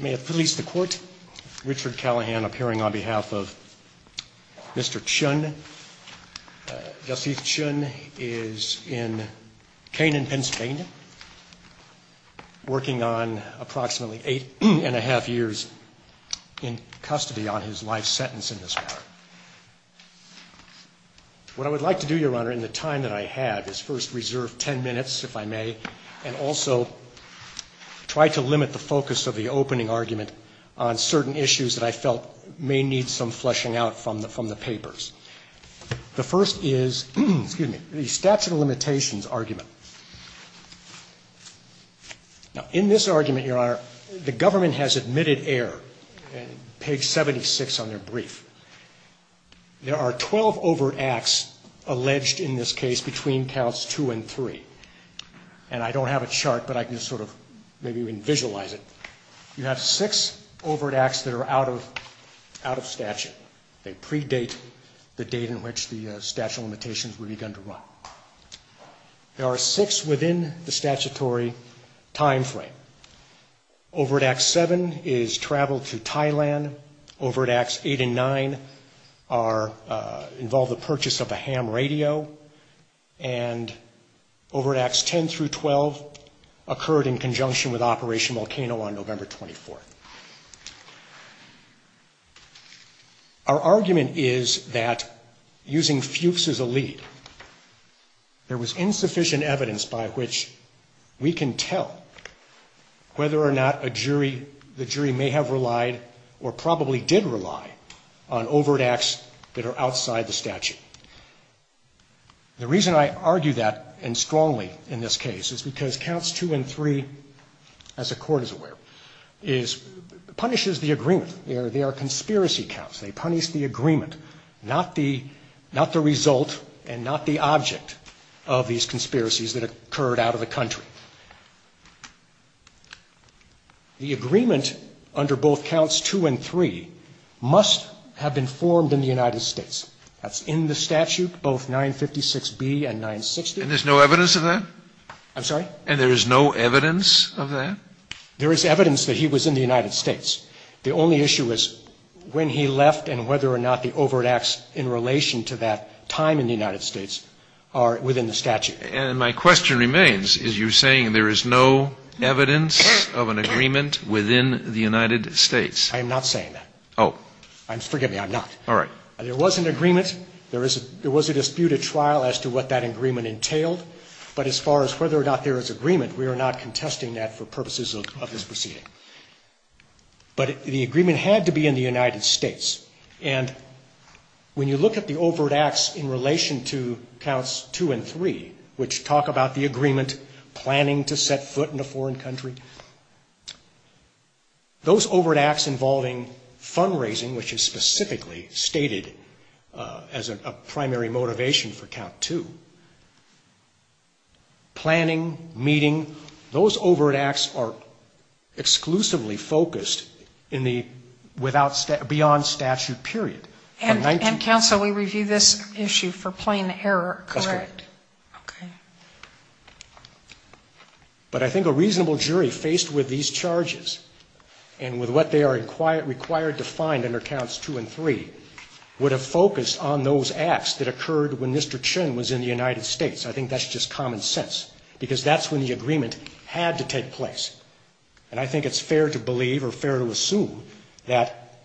May it please the court, Richard Callahan appearing on behalf of Mr. Chhun. Yasith Chhun is in Canaan, Pennsylvania, working on approximately eight and a half years in custody on his life sentence in this matter. What I would like to do, Your Honor, in the time that I have is first reserve ten minutes, if I may, and also try to limit the focus of the opening argument on certain issues that I felt may need some fleshing out from the papers. The first is, excuse me, the statute of limitations argument. Now, in this argument, Your Honor, the government has admitted error, page 76 on their brief. There are 12 overacts alleged in this case between counts two and three. And I don't have a chart, but I can just sort of maybe even visualize it. You have six overacts that are out of statute. They predate the date in which the statute of limitations were begun to run. There are six within the statutory time frame. Overact seven is travel to Thailand. Overacts eight and nine involve the purchase of a ham radio. And overacts 10 through 12 occurred in conjunction with Operation Volcano on November 24th. Our argument is that using Fuchs as a lead, there was insufficient evidence by which we can tell whether or not a jury, the jury may have relied or probably did rely on overacts that are outside the statute. The reason I argue that, and strongly in this case, is because counts two and three, as the Court is aware, punishes the agreement. They are conspiracy counts. They punish the agreement, not the result and not the object of these conspiracies that occurred out of the country. The agreement under both counts two and three must have been formed in the United States. That's in the statute, both 956B and 960. And there's no evidence of that? I'm sorry? And there is no evidence of that? There is evidence that he was in the United States. The only issue is when he left and whether or not the overacts in relation to that time in the United States are within the statute. And my question remains, is you're saying there is no evidence of an agreement within the United States? I am not saying that. Oh. Forgive me, I'm not. All right. There was an agreement. There was a disputed trial as to what that agreement entailed. But as far as whether or not there is agreement, we are not contesting that for purposes of this proceeding. But the agreement had to be in the United States. And when you look at the overacts in relation to counts two and three, which talk about the agreement planning to set foot in a foreign country, those overacts involving fundraising, which is specifically stated as a primary motivation for count two, planning, meeting, those overacts are exclusively focused in the beyond statute period. And counsel, we review this issue for plain error, correct? That's correct. But I think a reasonable jury faced with these charges, and with what they are required to find under counts two and three, would have focused on those acts that occurred when Mr. Chin was in the United States. I think that's just common sense. Because that's when the agreement had to take place. And I think it's fair to believe or fair to assume that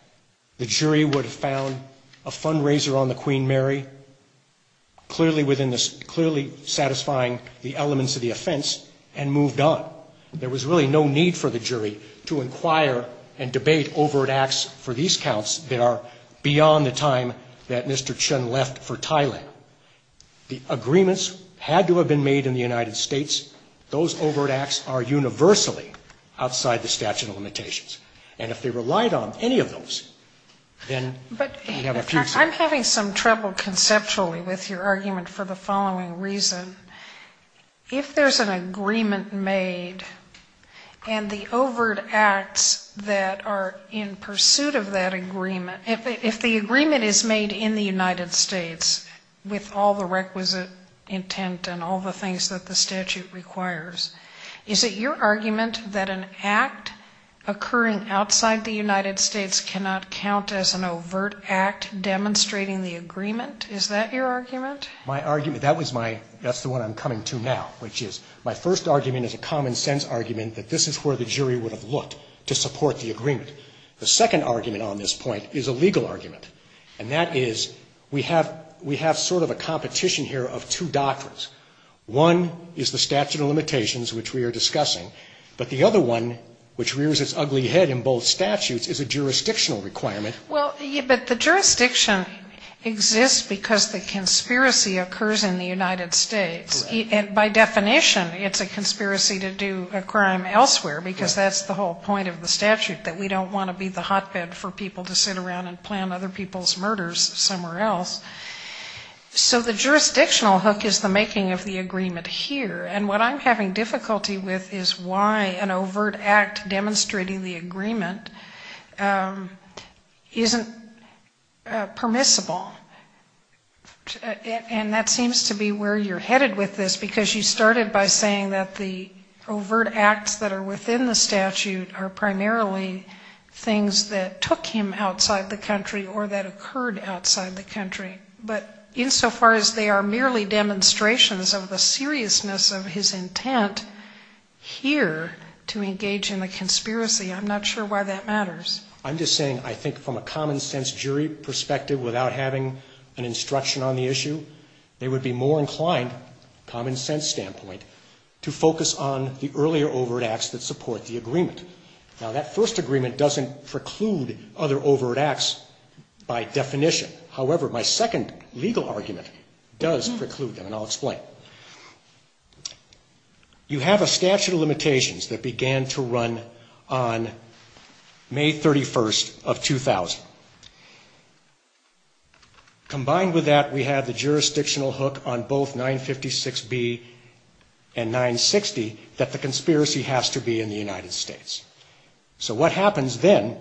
the jury would have found a fundraiser on the Queen Mary, clearly satisfying the elements of the offense, and moved on. There was really no need for the jury to inquire and debate overacts for these counts that are beyond the time that Mr. Chin left for Thailand. The agreements had to have been made in the United States. Those overacts are universally outside the statute of limitations. And if they relied on any of those, then we have a future. But I'm having some trouble conceptually with your argument for the following reason. If there's an agreement made, and the overt acts that are in pursuit of that agreement, if the agreement is made in the United States, with all the requisite intent and all the things that the statute requires, is it your argument that an act occurring outside the United States cannot count as an overt act demonstrating the agreement? Is that your argument? My argument, that was my, that's the one I'm coming to now, which is, my first argument is a common sense argument that this is where the jury would have looked to support the agreement. The second argument on this point is a legal argument. And that is, we have sort of a competition here of two doctrines. One is the statute of limitations, which we are discussing. But the other one, which rears its ugly head in both statutes, is a jurisdictional requirement. Well, but the jurisdiction exists because the conspiracy occurs in the United States. By definition, it's a conspiracy to do a crime elsewhere, because that's the whole point of the statute, that we don't want to be the hotbed for people to sit around and plan other people's murders somewhere else. So the jurisdictional hook is the making of the agreement here. And what I'm having difficulty with is why an overt act demonstrating the agreement isn't permissible. And that seems to be where you're headed with this, because you started by saying that the overt acts that are within the statute are primarily things that took him outside the country or that occurred outside the country. But insofar as they are merely demonstrations of the seriousness of his intent here to engage in a conspiracy, I'm not sure why that matters. I'm just saying, I think from a common-sense jury perspective, without having an instruction on the issue, they would be more inclined, common-sense standpoint, to focus on the earlier overt acts that support the agreement. Now, that first agreement doesn't preclude other overt acts by definition. However, my second legal argument does preclude them, and I'll explain. You have a statute of limitations that began to run on May 31st of 2000. Combined with that, we have the jurisdictional hook on both 956B and 960 that the conspiracy has to be in the United States. So what happens then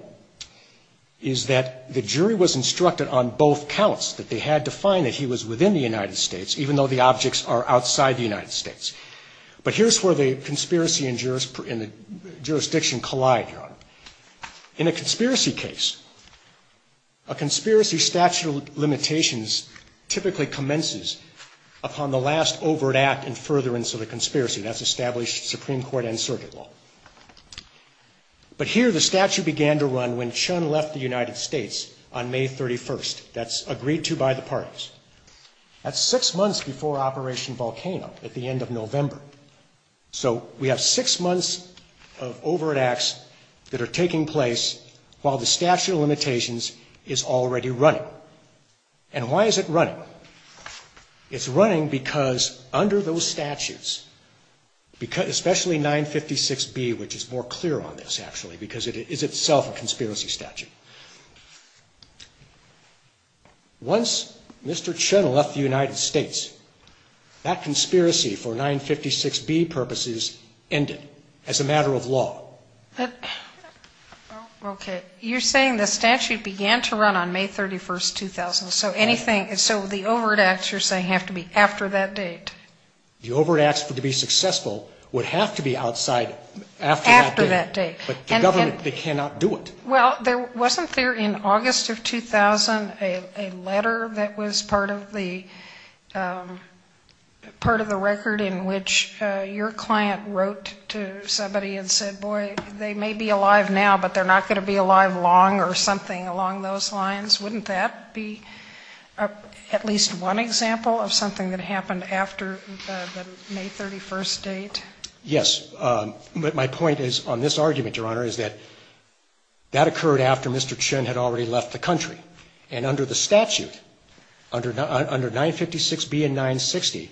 is that the jury was instructed on both counts that they had to find that he was within the United States, even though the objects are outside the United States. But here's where the conspiracy and the jurisdiction collide, Your Honor. In a conspiracy case, a conspiracy statute of limitations typically commences upon the last overt act and furtherance of the conspiracy. That's established Supreme Court and circuit law. But here, the statute began to run when Chun left the United States on May 31st. That's agreed to by the parties. That's six months before Operation Volcano at the end of November. So we have six months of overt acts that are taking place while the statute of limitations is already running. And why is it running? It's running because under those statutes, especially 956B, which is more clear on this, actually, because it is itself a conspiracy statute. Once Mr. Chun left the United States, that conspiracy for 956B purposes ended as a matter of law. Okay. You're saying the statute began to run on May 31st, 2000. So anything, so the overt acts, you're saying, have to be after that date? The overt acts to be successful would have to be outside after that date. After that date. But the government, they cannot do it. Well, wasn't there in August of 2000 a letter that was part of the record in which your client wrote to somebody and said, boy, they may be alive now, but they're not going to be alive long or something along those lines? Wouldn't that be at least one example of something that happened after the May 31st date? Yes. But my point is, on this argument, Your Honor, is that that occurred after Mr. Chun had already left the country. And under the statute, under 956B and 960,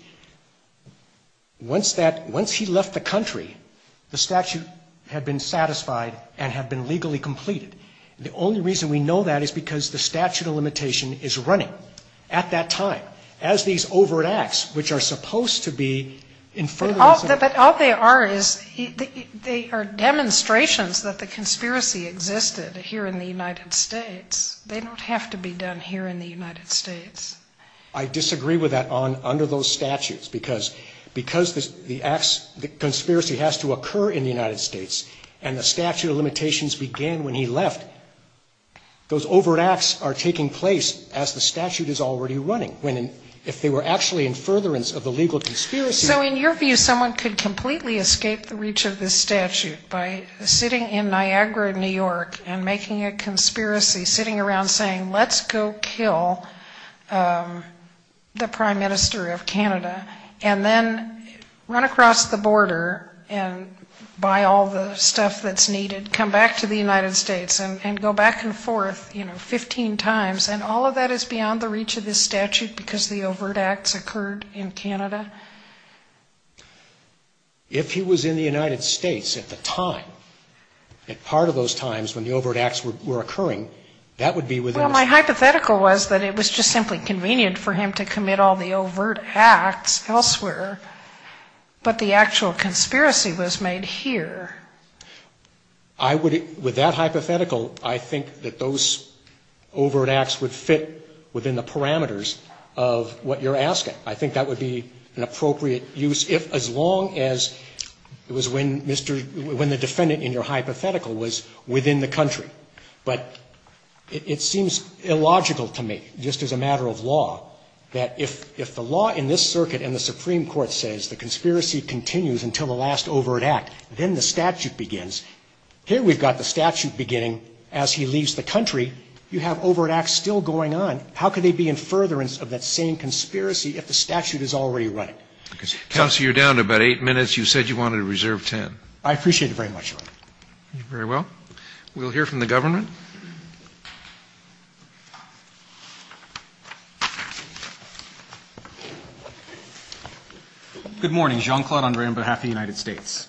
once that, once he left the country, the statute had been satisfied and had been legally completed. The only reason we know that is because the statute of limitation is running at that time, as these overt acts, which are supposed to be in further ance. But all they are is, they are demonstrations that the conspiracy existed here in the United States. They don't have to be done here in the United States. I disagree with that on, under those statutes, because, because the acts, the conspiracy has to occur in the United States, and the statute of limitations began when he left, those overt acts are taking place as the statute is already running. When, if they were actually in furtherance of the legal conspiracy. So in your view, someone could completely escape the reach of this statute by sitting in Niagara, New York, and making a conspiracy, sitting around saying, let's go kill the Prime Minister of Canada, and then run across the border and buy all the stuff that's needed, come back to the United States and go back and forth, you know, 15 times, and all of that is beyond the reach of this statute because the overt acts occurred in Canada? If he was in the United States at the time, at part of those times when the overt acts were occurring, that would be within the statute. Well, my hypothetical was that it was just simply convenient for him to commit all the overt acts elsewhere, but the actual conspiracy was made here. I would, with that hypothetical, I think that those overt acts would fit within the statute as long as it was when Mr. — when the defendant in your hypothetical was within the country. But it seems illogical to me, just as a matter of law, that if the law in this circuit and the Supreme Court says the conspiracy continues until the last overt act, then the statute begins. Here we've got the statute beginning as he leaves the country. You have overt acts still going on. How could they be in furtherance of that same conspiracy if the statute is already running? Counsel, you're down to about 8 minutes. You said you wanted to reserve 10. I appreciate it very much, Your Honor. Very well. We'll hear from the government. Good morning. Jean-Claude André on behalf of the United States.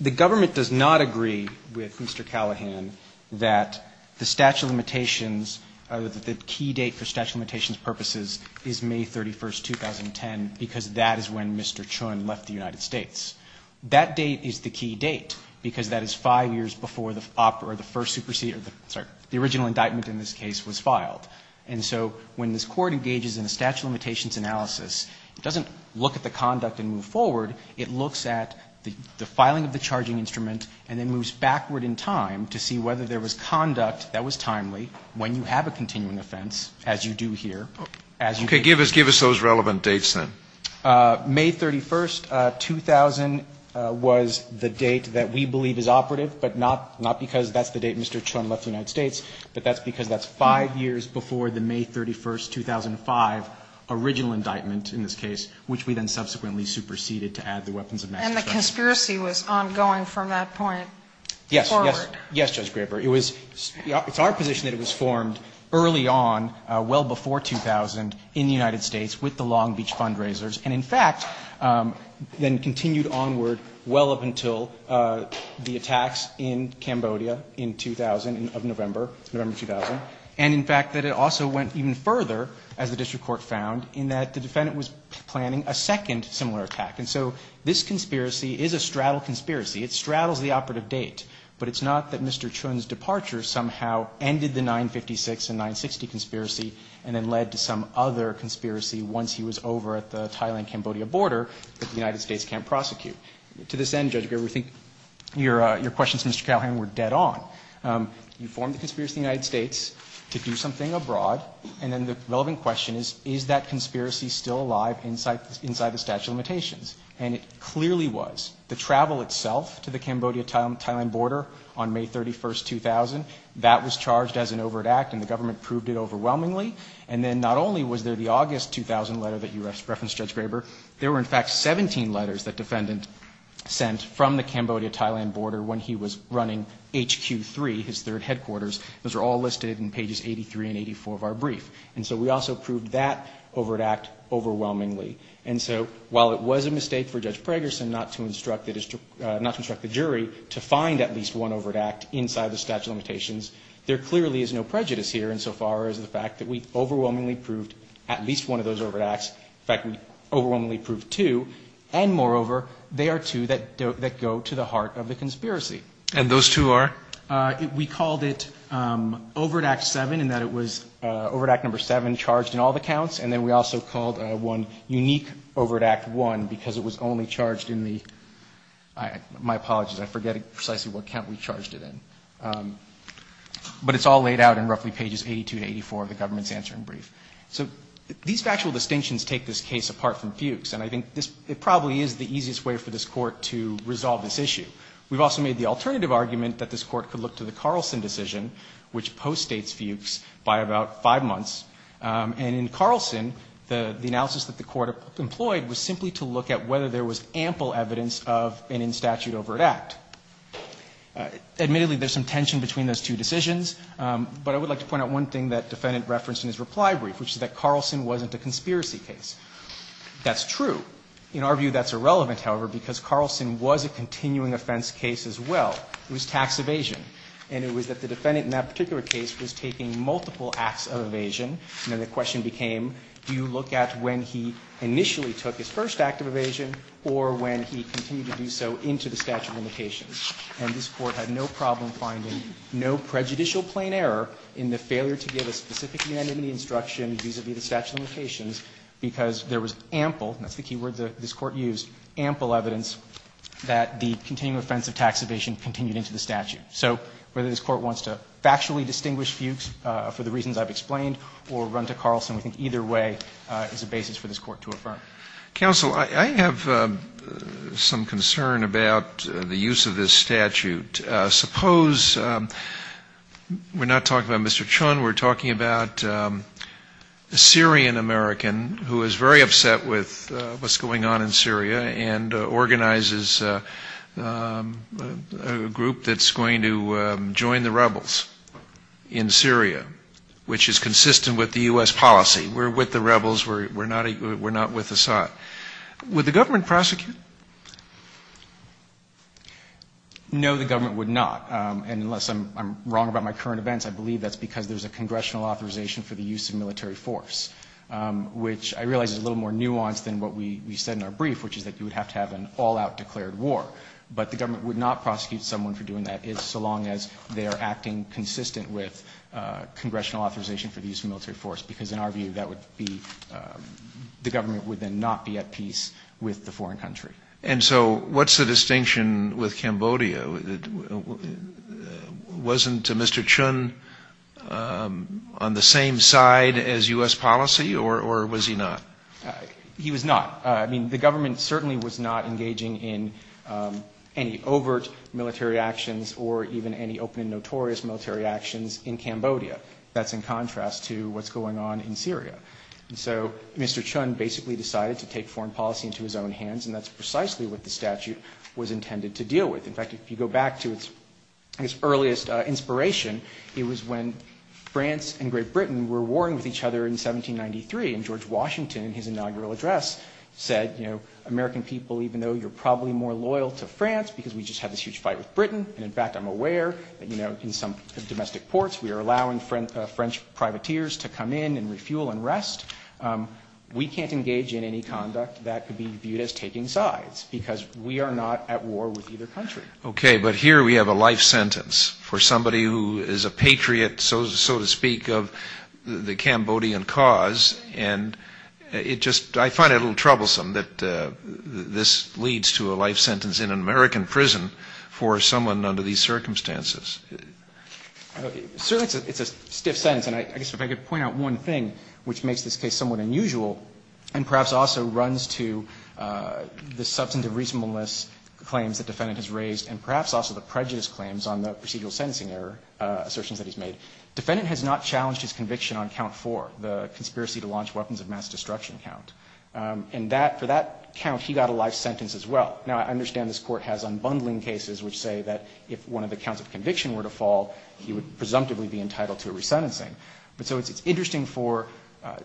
The government does not agree with Mr. Callahan that the statute of limitations — that the key date for statute of limitations purposes is May 31, 2010, because that is when Mr. Chun left the United States. That date is the key date, because that is 5 years before the first supersede — sorry, the original indictment in this case was filed. And so when this Court engages in a statute of limitations analysis, it doesn't look at the conduct and move forward. It looks at the filing of the charging instrument and then moves backward in time to see whether there was conduct that was timely when you have a continuing offense, as you do here. Okay. Give us those relevant dates, then. May 31, 2000 was the date that we believe is operative, but not because that's the date Mr. Chun left the United States, but that's because that's 5 years before the May 31, 2005 original indictment in this case, which we then subsequently superseded to add the weapons of mass destruction. And the conspiracy was ongoing from that point forward? Yes. Yes, Judge Graber. It was — it's our position that it was formed early on, well before 2000, in the United States with the Long Beach fundraisers, and in fact, then continued onward well up until the attacks in Cambodia in 2000 of November, November 2000. And in fact, that it also went even further, as the district court found, in that the defendant was planning a second similar attack. And so this conspiracy is a straddle conspiracy. It straddles the operative date, but it's not that Mr. Chun's departure somehow ended the 956 and 960 conspiracy and then led to some other conspiracy once he was over at the Thailand-Cambodia border that the United States can't prosecute. To this end, Judge Graber, we think your questions to Mr. Calhoun were dead on. You formed the conspiracy in the United States to do something abroad, and then the relevant question is, is that conspiracy still alive inside the statute of limitations? And it clearly was. The travel itself to the Cambodia-Thailand border on May 31, 2000, that was charged as an overt act, and the government proved it overwhelmingly. And then not only was there the August 2000 letter that you referenced, Judge Graber, there were in fact 17 letters that defendant sent from the Cambodia-Thailand border when he was running HQ3, his third headquarters. Those are all listed in pages 83 and 84 of our brief. And so we also proved that overt act overwhelmingly. And so while it was a mistake for Judge Pragerson not to instruct the jury to find at least one overt act inside the statute of limitations, there clearly is no prejudice here insofar as the fact that we overwhelmingly proved at least one of those overt acts. In fact, we overwhelmingly proved two. And moreover, they are two that go to the heart of the conspiracy. And those two are? We called it overt act 7 in that it was overt act number 7 charged in all the counts, and then we also called one unique overt act 1 because it was only charged in the my apologies, I forget precisely what count we charged it in. But it's all laid out in roughly pages 82 to 84 of the government's answering brief. So these factual distinctions take this case apart from Fuchs, and I think it probably is the easiest way for this Court to resolve this issue. We've also made the alternative argument that this Court could look to the Carlson decision, which postdates Fuchs by about five months. And in Carlson, the analysis that the Court employed was simply to look at whether there was ample evidence of an in statute overt act. Admittedly, there's some tension between those two decisions, but I would like to point out one thing that the defendant referenced in his reply brief, which is that Carlson wasn't a conspiracy case. That's true. In our view, that's irrelevant, however, because Carlson was a continuing offense case as well. It was tax evasion. And it was that the defendant in that particular case was taking multiple acts of evasion and then the question became, do you look at when he initially took his first act of evasion or when he continued to do so into the statute of limitations? And this Court had no problem finding no prejudicial plain error in the failure to give a specific unanimity instruction vis-a-vis the statute of limitations, because there was ample, and that's the key word this Court used, ample evidence that the continuing offense of tax evasion continued into the statute. So whether this Court wants to factually distinguish Fuchs for the reasons I've explained or run to Carlson, we think either way is a basis for this Court to affirm. Counsel, I have some concern about the use of this statute. Suppose we're not talking about Mr. Chun. We're talking about a Syrian American who is very upset with what's going on in Syria and organizes a group that's going to join the rebels in Syria, which is consistent with the U.S. policy. We're with the rebels. We're not with Assad. Would the government prosecute? No, the government would not. And unless I'm wrong about my current events, I believe that's because there's a congressional authorization for the use of military force, which I realize is a little more nuanced than what we said in our brief, which is that you would have to have an all-out declared war. But the government would not prosecute someone for doing that, so long as they are acting consistent with congressional authorization for the use of military force, because in our view, that would be, the government would then not be at peace with the foreign country. And so what's the distinction with Cambodia? Wasn't Mr. Chun on the same side as U.S. policy, or was he not? He was not. I mean, the government certainly was not engaging in any overt military actions or even any open and notorious military actions in Cambodia. That's in contrast to what's going on in Syria. So Mr. Chun basically decided to take foreign policy into his own hands, and that's precisely what the statute was intended to deal with. In fact, if you go back to its earliest inspiration, it was when France and Great Britain were warring with each other in 1793, and George Washington, in his inaugural address, said, you know, American people, even though you're probably more loyal to France because we just had this huge fight with Britain, and in fact, I'm aware, you know, in some domestic ports, we are allowing French privateers to come in and refuel and rest. We can't engage in any conduct that could be viewed as taking sides, because we are not at war with either country. Okay, but here we have a life sentence for somebody who is a patriot, so to speak, of the Cambodian cause, and it just, I find it a little troublesome that this leads to a life sentence in an American prison for someone under these circumstances. Certainly it's a stiff sentence, and I guess if I could point out one thing which makes this case somewhat unusual, and perhaps also runs to the substantive reasonableness claims the defendant has raised, and perhaps also the prejudice claims on the procedural sentencing error assertions that he's made. The defendant has not challenged his conviction on count four, the conspiracy to launch weapons of mass destruction count. And that, for that count, he got a life sentence as well. Now, I understand this Court has unbundling cases which say that if one of the counts of conviction were to fall, he would presumptively be entitled to a resentencing. But so it's interesting for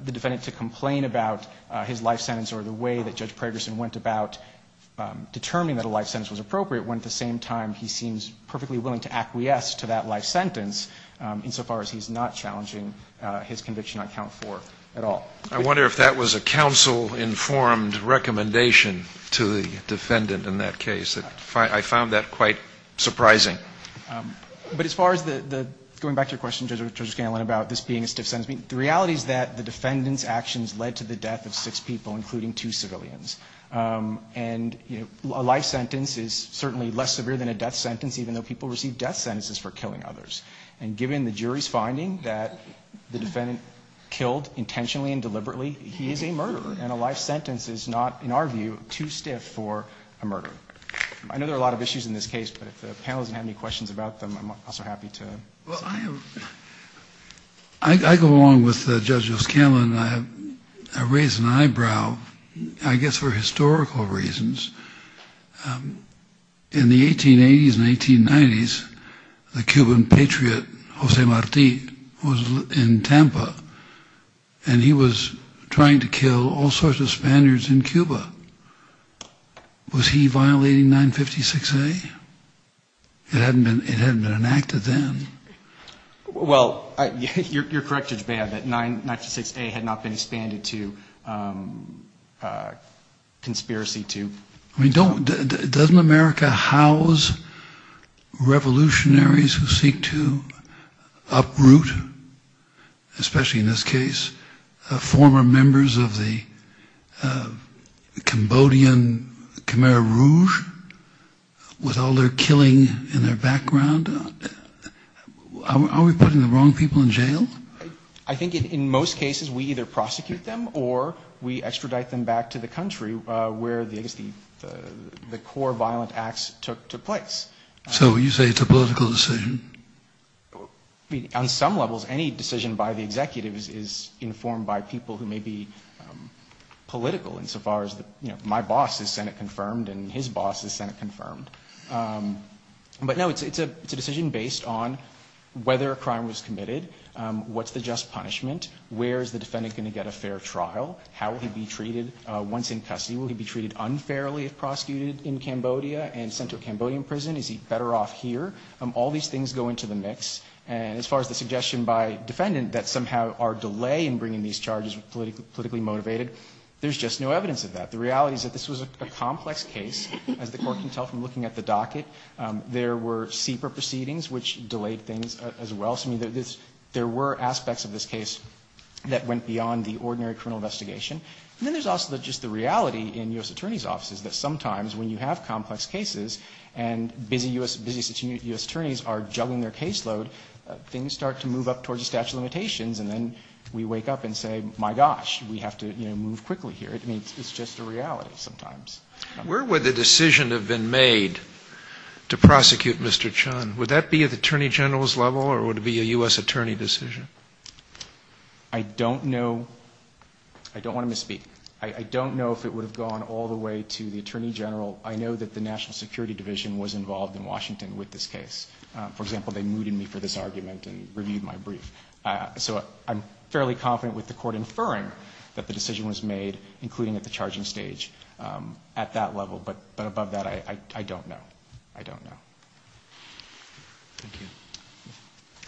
the defendant to complain about his life sentence or the way that Judge Pragerson went about determining that a life sentence was appropriate, when at the same time he seems perfectly willing to acquiesce to that life sentence, insofar as he's not challenging his conviction on count four at all. I wonder if that was a counsel-informed recommendation to the defendant in that case. I found that quite surprising. But as far as the going back to your question, Judge Scanlon, about this being a stiff sentence, the reality is that the defendant's actions led to the death of six people, including two civilians. And a life sentence is certainly less severe than a death sentence, even though people receive death sentences for killing others. And given the jury's finding that the defendant killed intentionally and deliberately he is a murderer. And a life sentence is not, in our view, too stiff for a murderer. I know there are a lot of issues in this case, but if the panel doesn't have any questions about them, I'm also happy to. Well, I go along with Judge O'Scanlon. I raised an eyebrow, I guess for historical reasons. In the 1880s and 1890s, the Cuban patriot, Jose Marti, was in Tampa. And he was trying to kill all sorts of Spaniards in Cuba. Was he violating 956A? It hadn't been enacted then. Well, you're correct, Judge Baha, that 956A had not been expanded to conspiracy to... I mean, doesn't America house revolutionaries who seek to uproot, especially in this case, former members of the Cambodian Khmer Rouge with all their killing in their background? Are we putting the wrong people in jail? I think in most cases we either prosecute them or we extradite them back to the country where the core violent acts took place. So you say it's a political decision? On some levels, any decision by the executives is informed by people who may be political insofar as my boss is Senate-confirmed and his boss is Senate-confirmed. But no, it's a decision based on whether a crime was committed. What's the just punishment? Where is the defendant going to get a fair trial? How will he be treated once in custody? Will he be treated unfairly if prosecuted in Cambodia and sent to a Cambodian prison? Is he better off here? All these things go into the mix. And as far as the suggestion by defendant that somehow our delay in bringing these charges politically motivated, there's just no evidence of that. The reality is that this was a complex case, as the court can tell from looking at the docket. There were SIPA proceedings which delayed things as well. So there were aspects of this case that went beyond the ordinary criminal investigation. And then there's also just the reality in U.S. attorneys are juggling their caseload, things start to move up towards the statute of limitations, and then we wake up and say, my gosh, we have to move quickly here. I mean, it's just a reality sometimes. Sotomayor, where would the decision have been made to prosecute Mr. Chun? Would that be at the Attorney General's level or would it be a U.S. attorney decision? I don't know. I don't want to misspeak. I don't know if it would have gone all the way to the Attorney General. I know that the National Security Division was involved in Washington with this case. For example, they mooted me for this argument and reviewed my brief. So I'm fairly confident with the Court inferring that the decision was made, including at the charging stage, at that level. But above that, I don't know. I don't know. Thank you.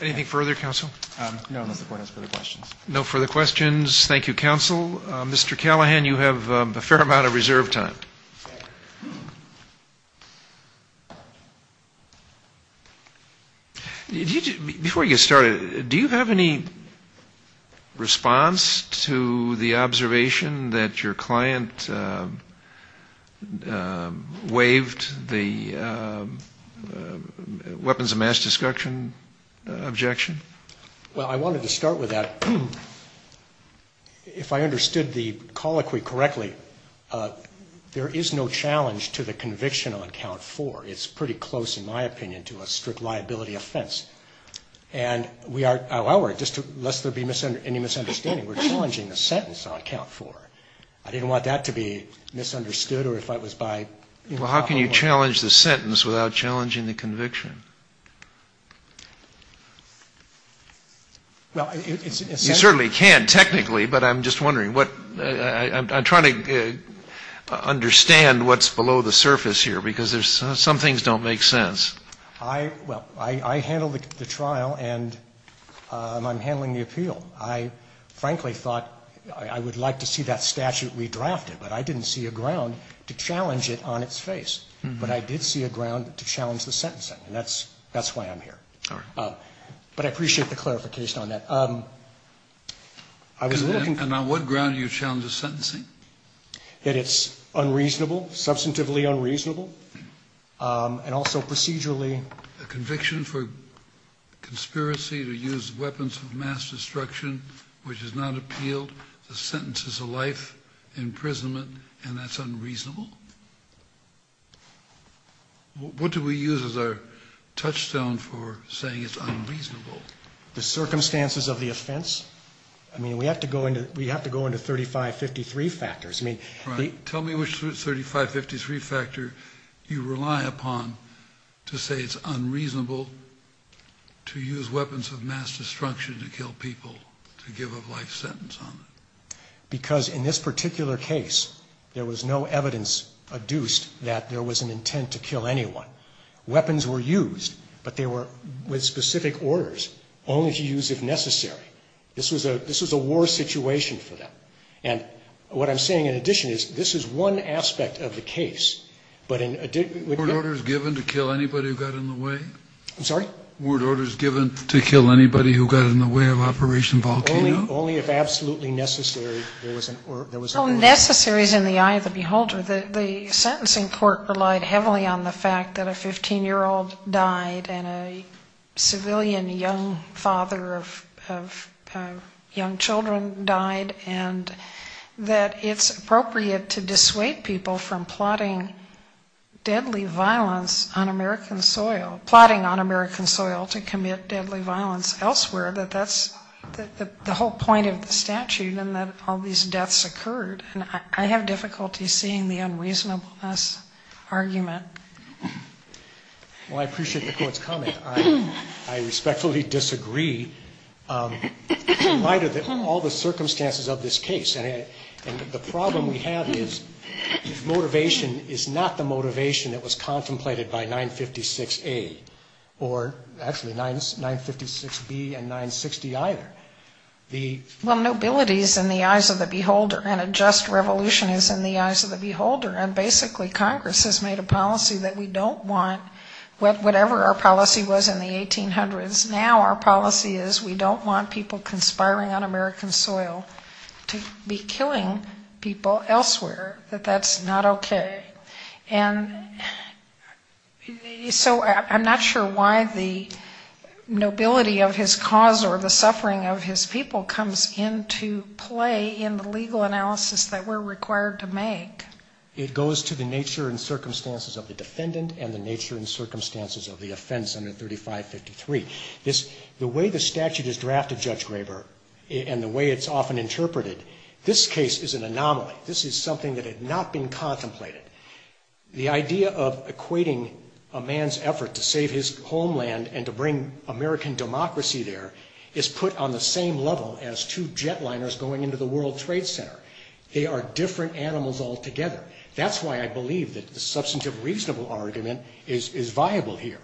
Anything further, counsel? No, unless the Court has further questions. No further questions. Thank you, counsel. Mr. Callahan, you have a fair amount of reserve time. Thank you. Before you get started, do you have any response to the observation that your client waived the weapons of mass destruction objection? Well, I wanted to start with that. If I understood the colloquy correctly, there is no challenge to the conviction on count four. It's pretty close, in my opinion, to a strict liability offense. And we are, however, just to, lest there be any misunderstanding, we're challenging the sentence on count four. I didn't want that to be misunderstood or if I was by, you know, a whole lot. Well, how can you challenge the sentence without challenging the conviction? You certainly can technically, but I'm just wondering what, I'm trying to understand what's below the surface here, because some things don't make sense. Well, I handled the trial and I'm handling the appeal. I frankly thought I would like to see that statute redrafted, but I didn't see a ground to challenge it on its face. But I did see a ground to challenge the sentencing, and that's why I'm here. All right. But I appreciate the clarification on that. And on what ground do you challenge the sentencing? That it's unreasonable, substantively unreasonable, and also procedurally. A conviction for conspiracy to use weapons of mass destruction, which is not appealed, the sentence is a life imprisonment, and that's unreasonable? What do we use as our touchstone for saying it's unreasonable? The circumstances of the offense. I mean, we have to go into 3553 factors. Tell me which 3553 factor you rely upon to say it's unreasonable to use weapons of mass destruction to kill people, to give a life sentence on it. Because in this particular case, there was no evidence adduced that there was an intent to kill anyone. Weapons were used, but they were with specific orders, only to use if necessary. This was a war situation for them. And what I'm saying in addition is, this is one aspect of the case, but in addition to that. Were orders given to kill anybody who got in the way? I'm sorry? Were orders given to kill anybody who got in the way of Operation Volcano? Only if absolutely necessary, there was an order. Well, necessary is in the eye of the beholder. The sentencing court relied heavily on the fact that a 15-year-old died and a civilian young father of young children died, and that it's appropriate to dissuade people from plotting deadly violence on American soil, plotting on American soil to commit deadly violence elsewhere. That that's the whole point of the statute, and that all these deaths occurred. And I have difficulty seeing the unreasonableness argument. Well, I appreciate the court's comment. I respectfully disagree in light of all the circumstances of this case. And the problem we have is motivation is not the motivation that was contemplated by 956A, or actually 956B and 960 either. Well, nobility is in the eyes of the beholder, and a just revolution is in the eyes of the beholder. And basically Congress has made a policy that we don't want, whatever our policy was in the 1800s, now our policy is we don't want people conspiring on American soil to be killing people elsewhere, that that's not okay. And so I'm not sure why the nobility of his cause or the suffering of his people comes into play in the legal analysis that we're required to make. It goes to the nature and circumstances of the defendant and the nature and circumstances of the offense under 3553. The way the statute is drafted, Judge Graber, and the way it's often interpreted, this case is an anomaly. This is something that had not been contemplated. The idea of equating a man's effort to save his homeland and to bring American democracy there is put on the same level as two jetliners going into the World Trade Center. They are different animals altogether. That's why I believe that the substantive reasonable argument is viable here.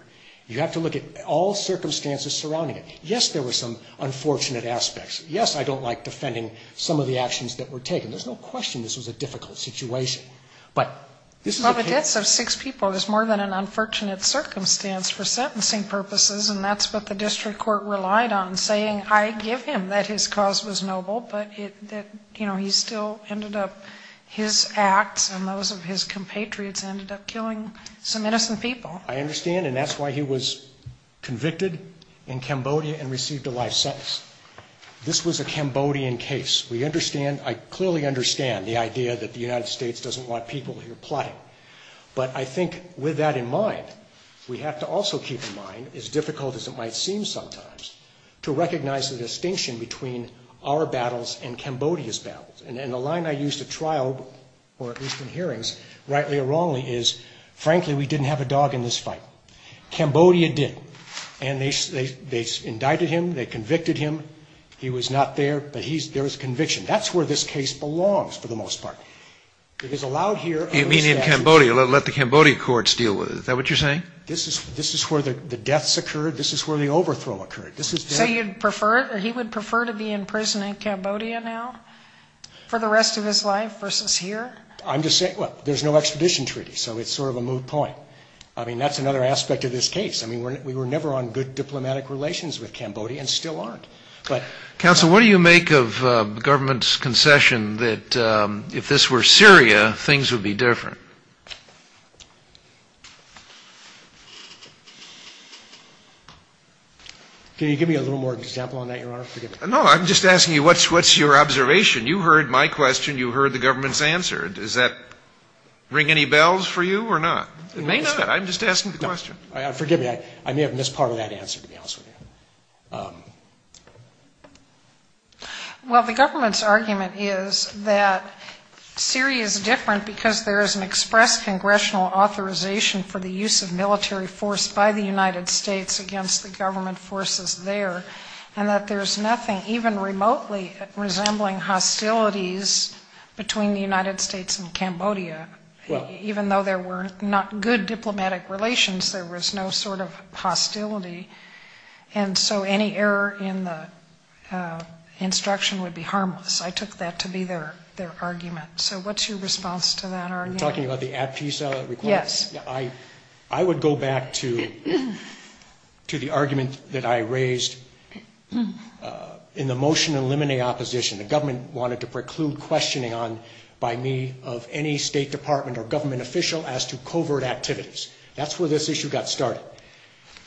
You have to look at all circumstances surrounding it. Yes, there were some unfortunate aspects. Yes, I don't like defending some of the actions that were taken. There's no question this was a difficult situation. But this is a case of six people. It was more than an unfortunate circumstance for sentencing purposes, and that's what the district court relied on, saying, I give him that his cause was noble, but that he still ended up, his acts and those of his compatriots ended up killing some innocent people. I understand, and that's why he was convicted in Cambodia and received a life sentence. This was a Cambodian case. We understand, I clearly understand the idea that the United States doesn't want people here plotting. But I think with that in mind, we have to also keep in mind, as difficult as it might seem sometimes, to recognize the distinction between our battles and Cambodia's battles. And the line I used at trial, or at least in hearings, rightly or wrongly, is, frankly, we didn't have a dog in this fight. Cambodia did. And they indicted him. They convicted him. He was not there, but there was conviction. That's where this case belongs, for the most part. It is allowed here. You mean in Cambodia, let the Cambodia courts deal with it. Is that what you're saying? This is where the deaths occurred. This is where the overthrow occurred. So you'd prefer, he would prefer to be in prison in Cambodia now for the rest of his life versus here? I'm just saying, well, there's no expedition treaty, so it's sort of a moot point. I mean, that's another aspect of this case. I mean, we were never on good diplomatic relations with Cambodia and still aren't. Counsel, what do you make of the government's concession that if this were Syria, things would be different? Can you give me a little more example on that, Your Honor? No, I'm just asking you, what's your observation? You heard my question. You heard the government's answer. Does that ring any bells for you or not? It may not. I'm just asking the question. Forgive me. I may have missed part of that answer, to be honest with you. Well, the government's argument is that Syria is different because there is an express congressional authorization for the use of military force by the United States against the government forces there and that there's nothing even remotely resembling hostilities between the United States and Cambodia. Even though there were not good diplomatic relations, there was no sort of hostility, and so any error in the instruction would be harmless. I took that to be their argument. So what's your response to that argument? You're talking about the Ad Fisa request? Yes. I would go back to the argument that I raised in the motion to eliminate opposition. The government wanted to preclude questioning by me of any State Department or government official as to covert activities. That's where this issue got started.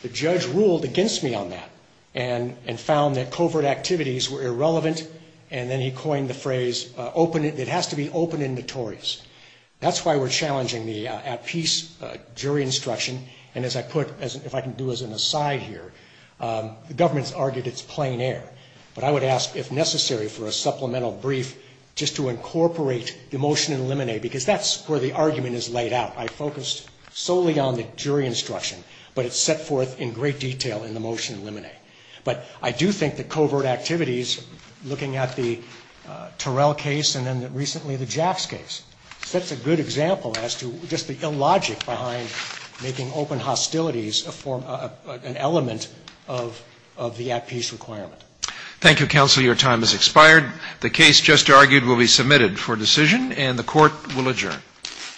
The judge ruled against me on that and found that covert activities were irrelevant, and then he coined the phrase, it has to be open and notorious. That's why we're challenging the at-peace jury instruction, and as I put, if I can do as an aside here, the government's argued it's plain air. But I would ask if necessary for a supplemental brief just to incorporate the motion to eliminate because that's where the argument is laid out. I focused solely on the jury instruction, but it's set forth in great detail in the motion to eliminate. But I do think that covert activities, looking at the Terrell case and then recently the Jacks case, sets a good example as to just the illogic behind making open hostilities an element of the at-peace requirement. Thank you, counsel. Your time has expired. The case just argued will be submitted for decision, and the court will adjourn.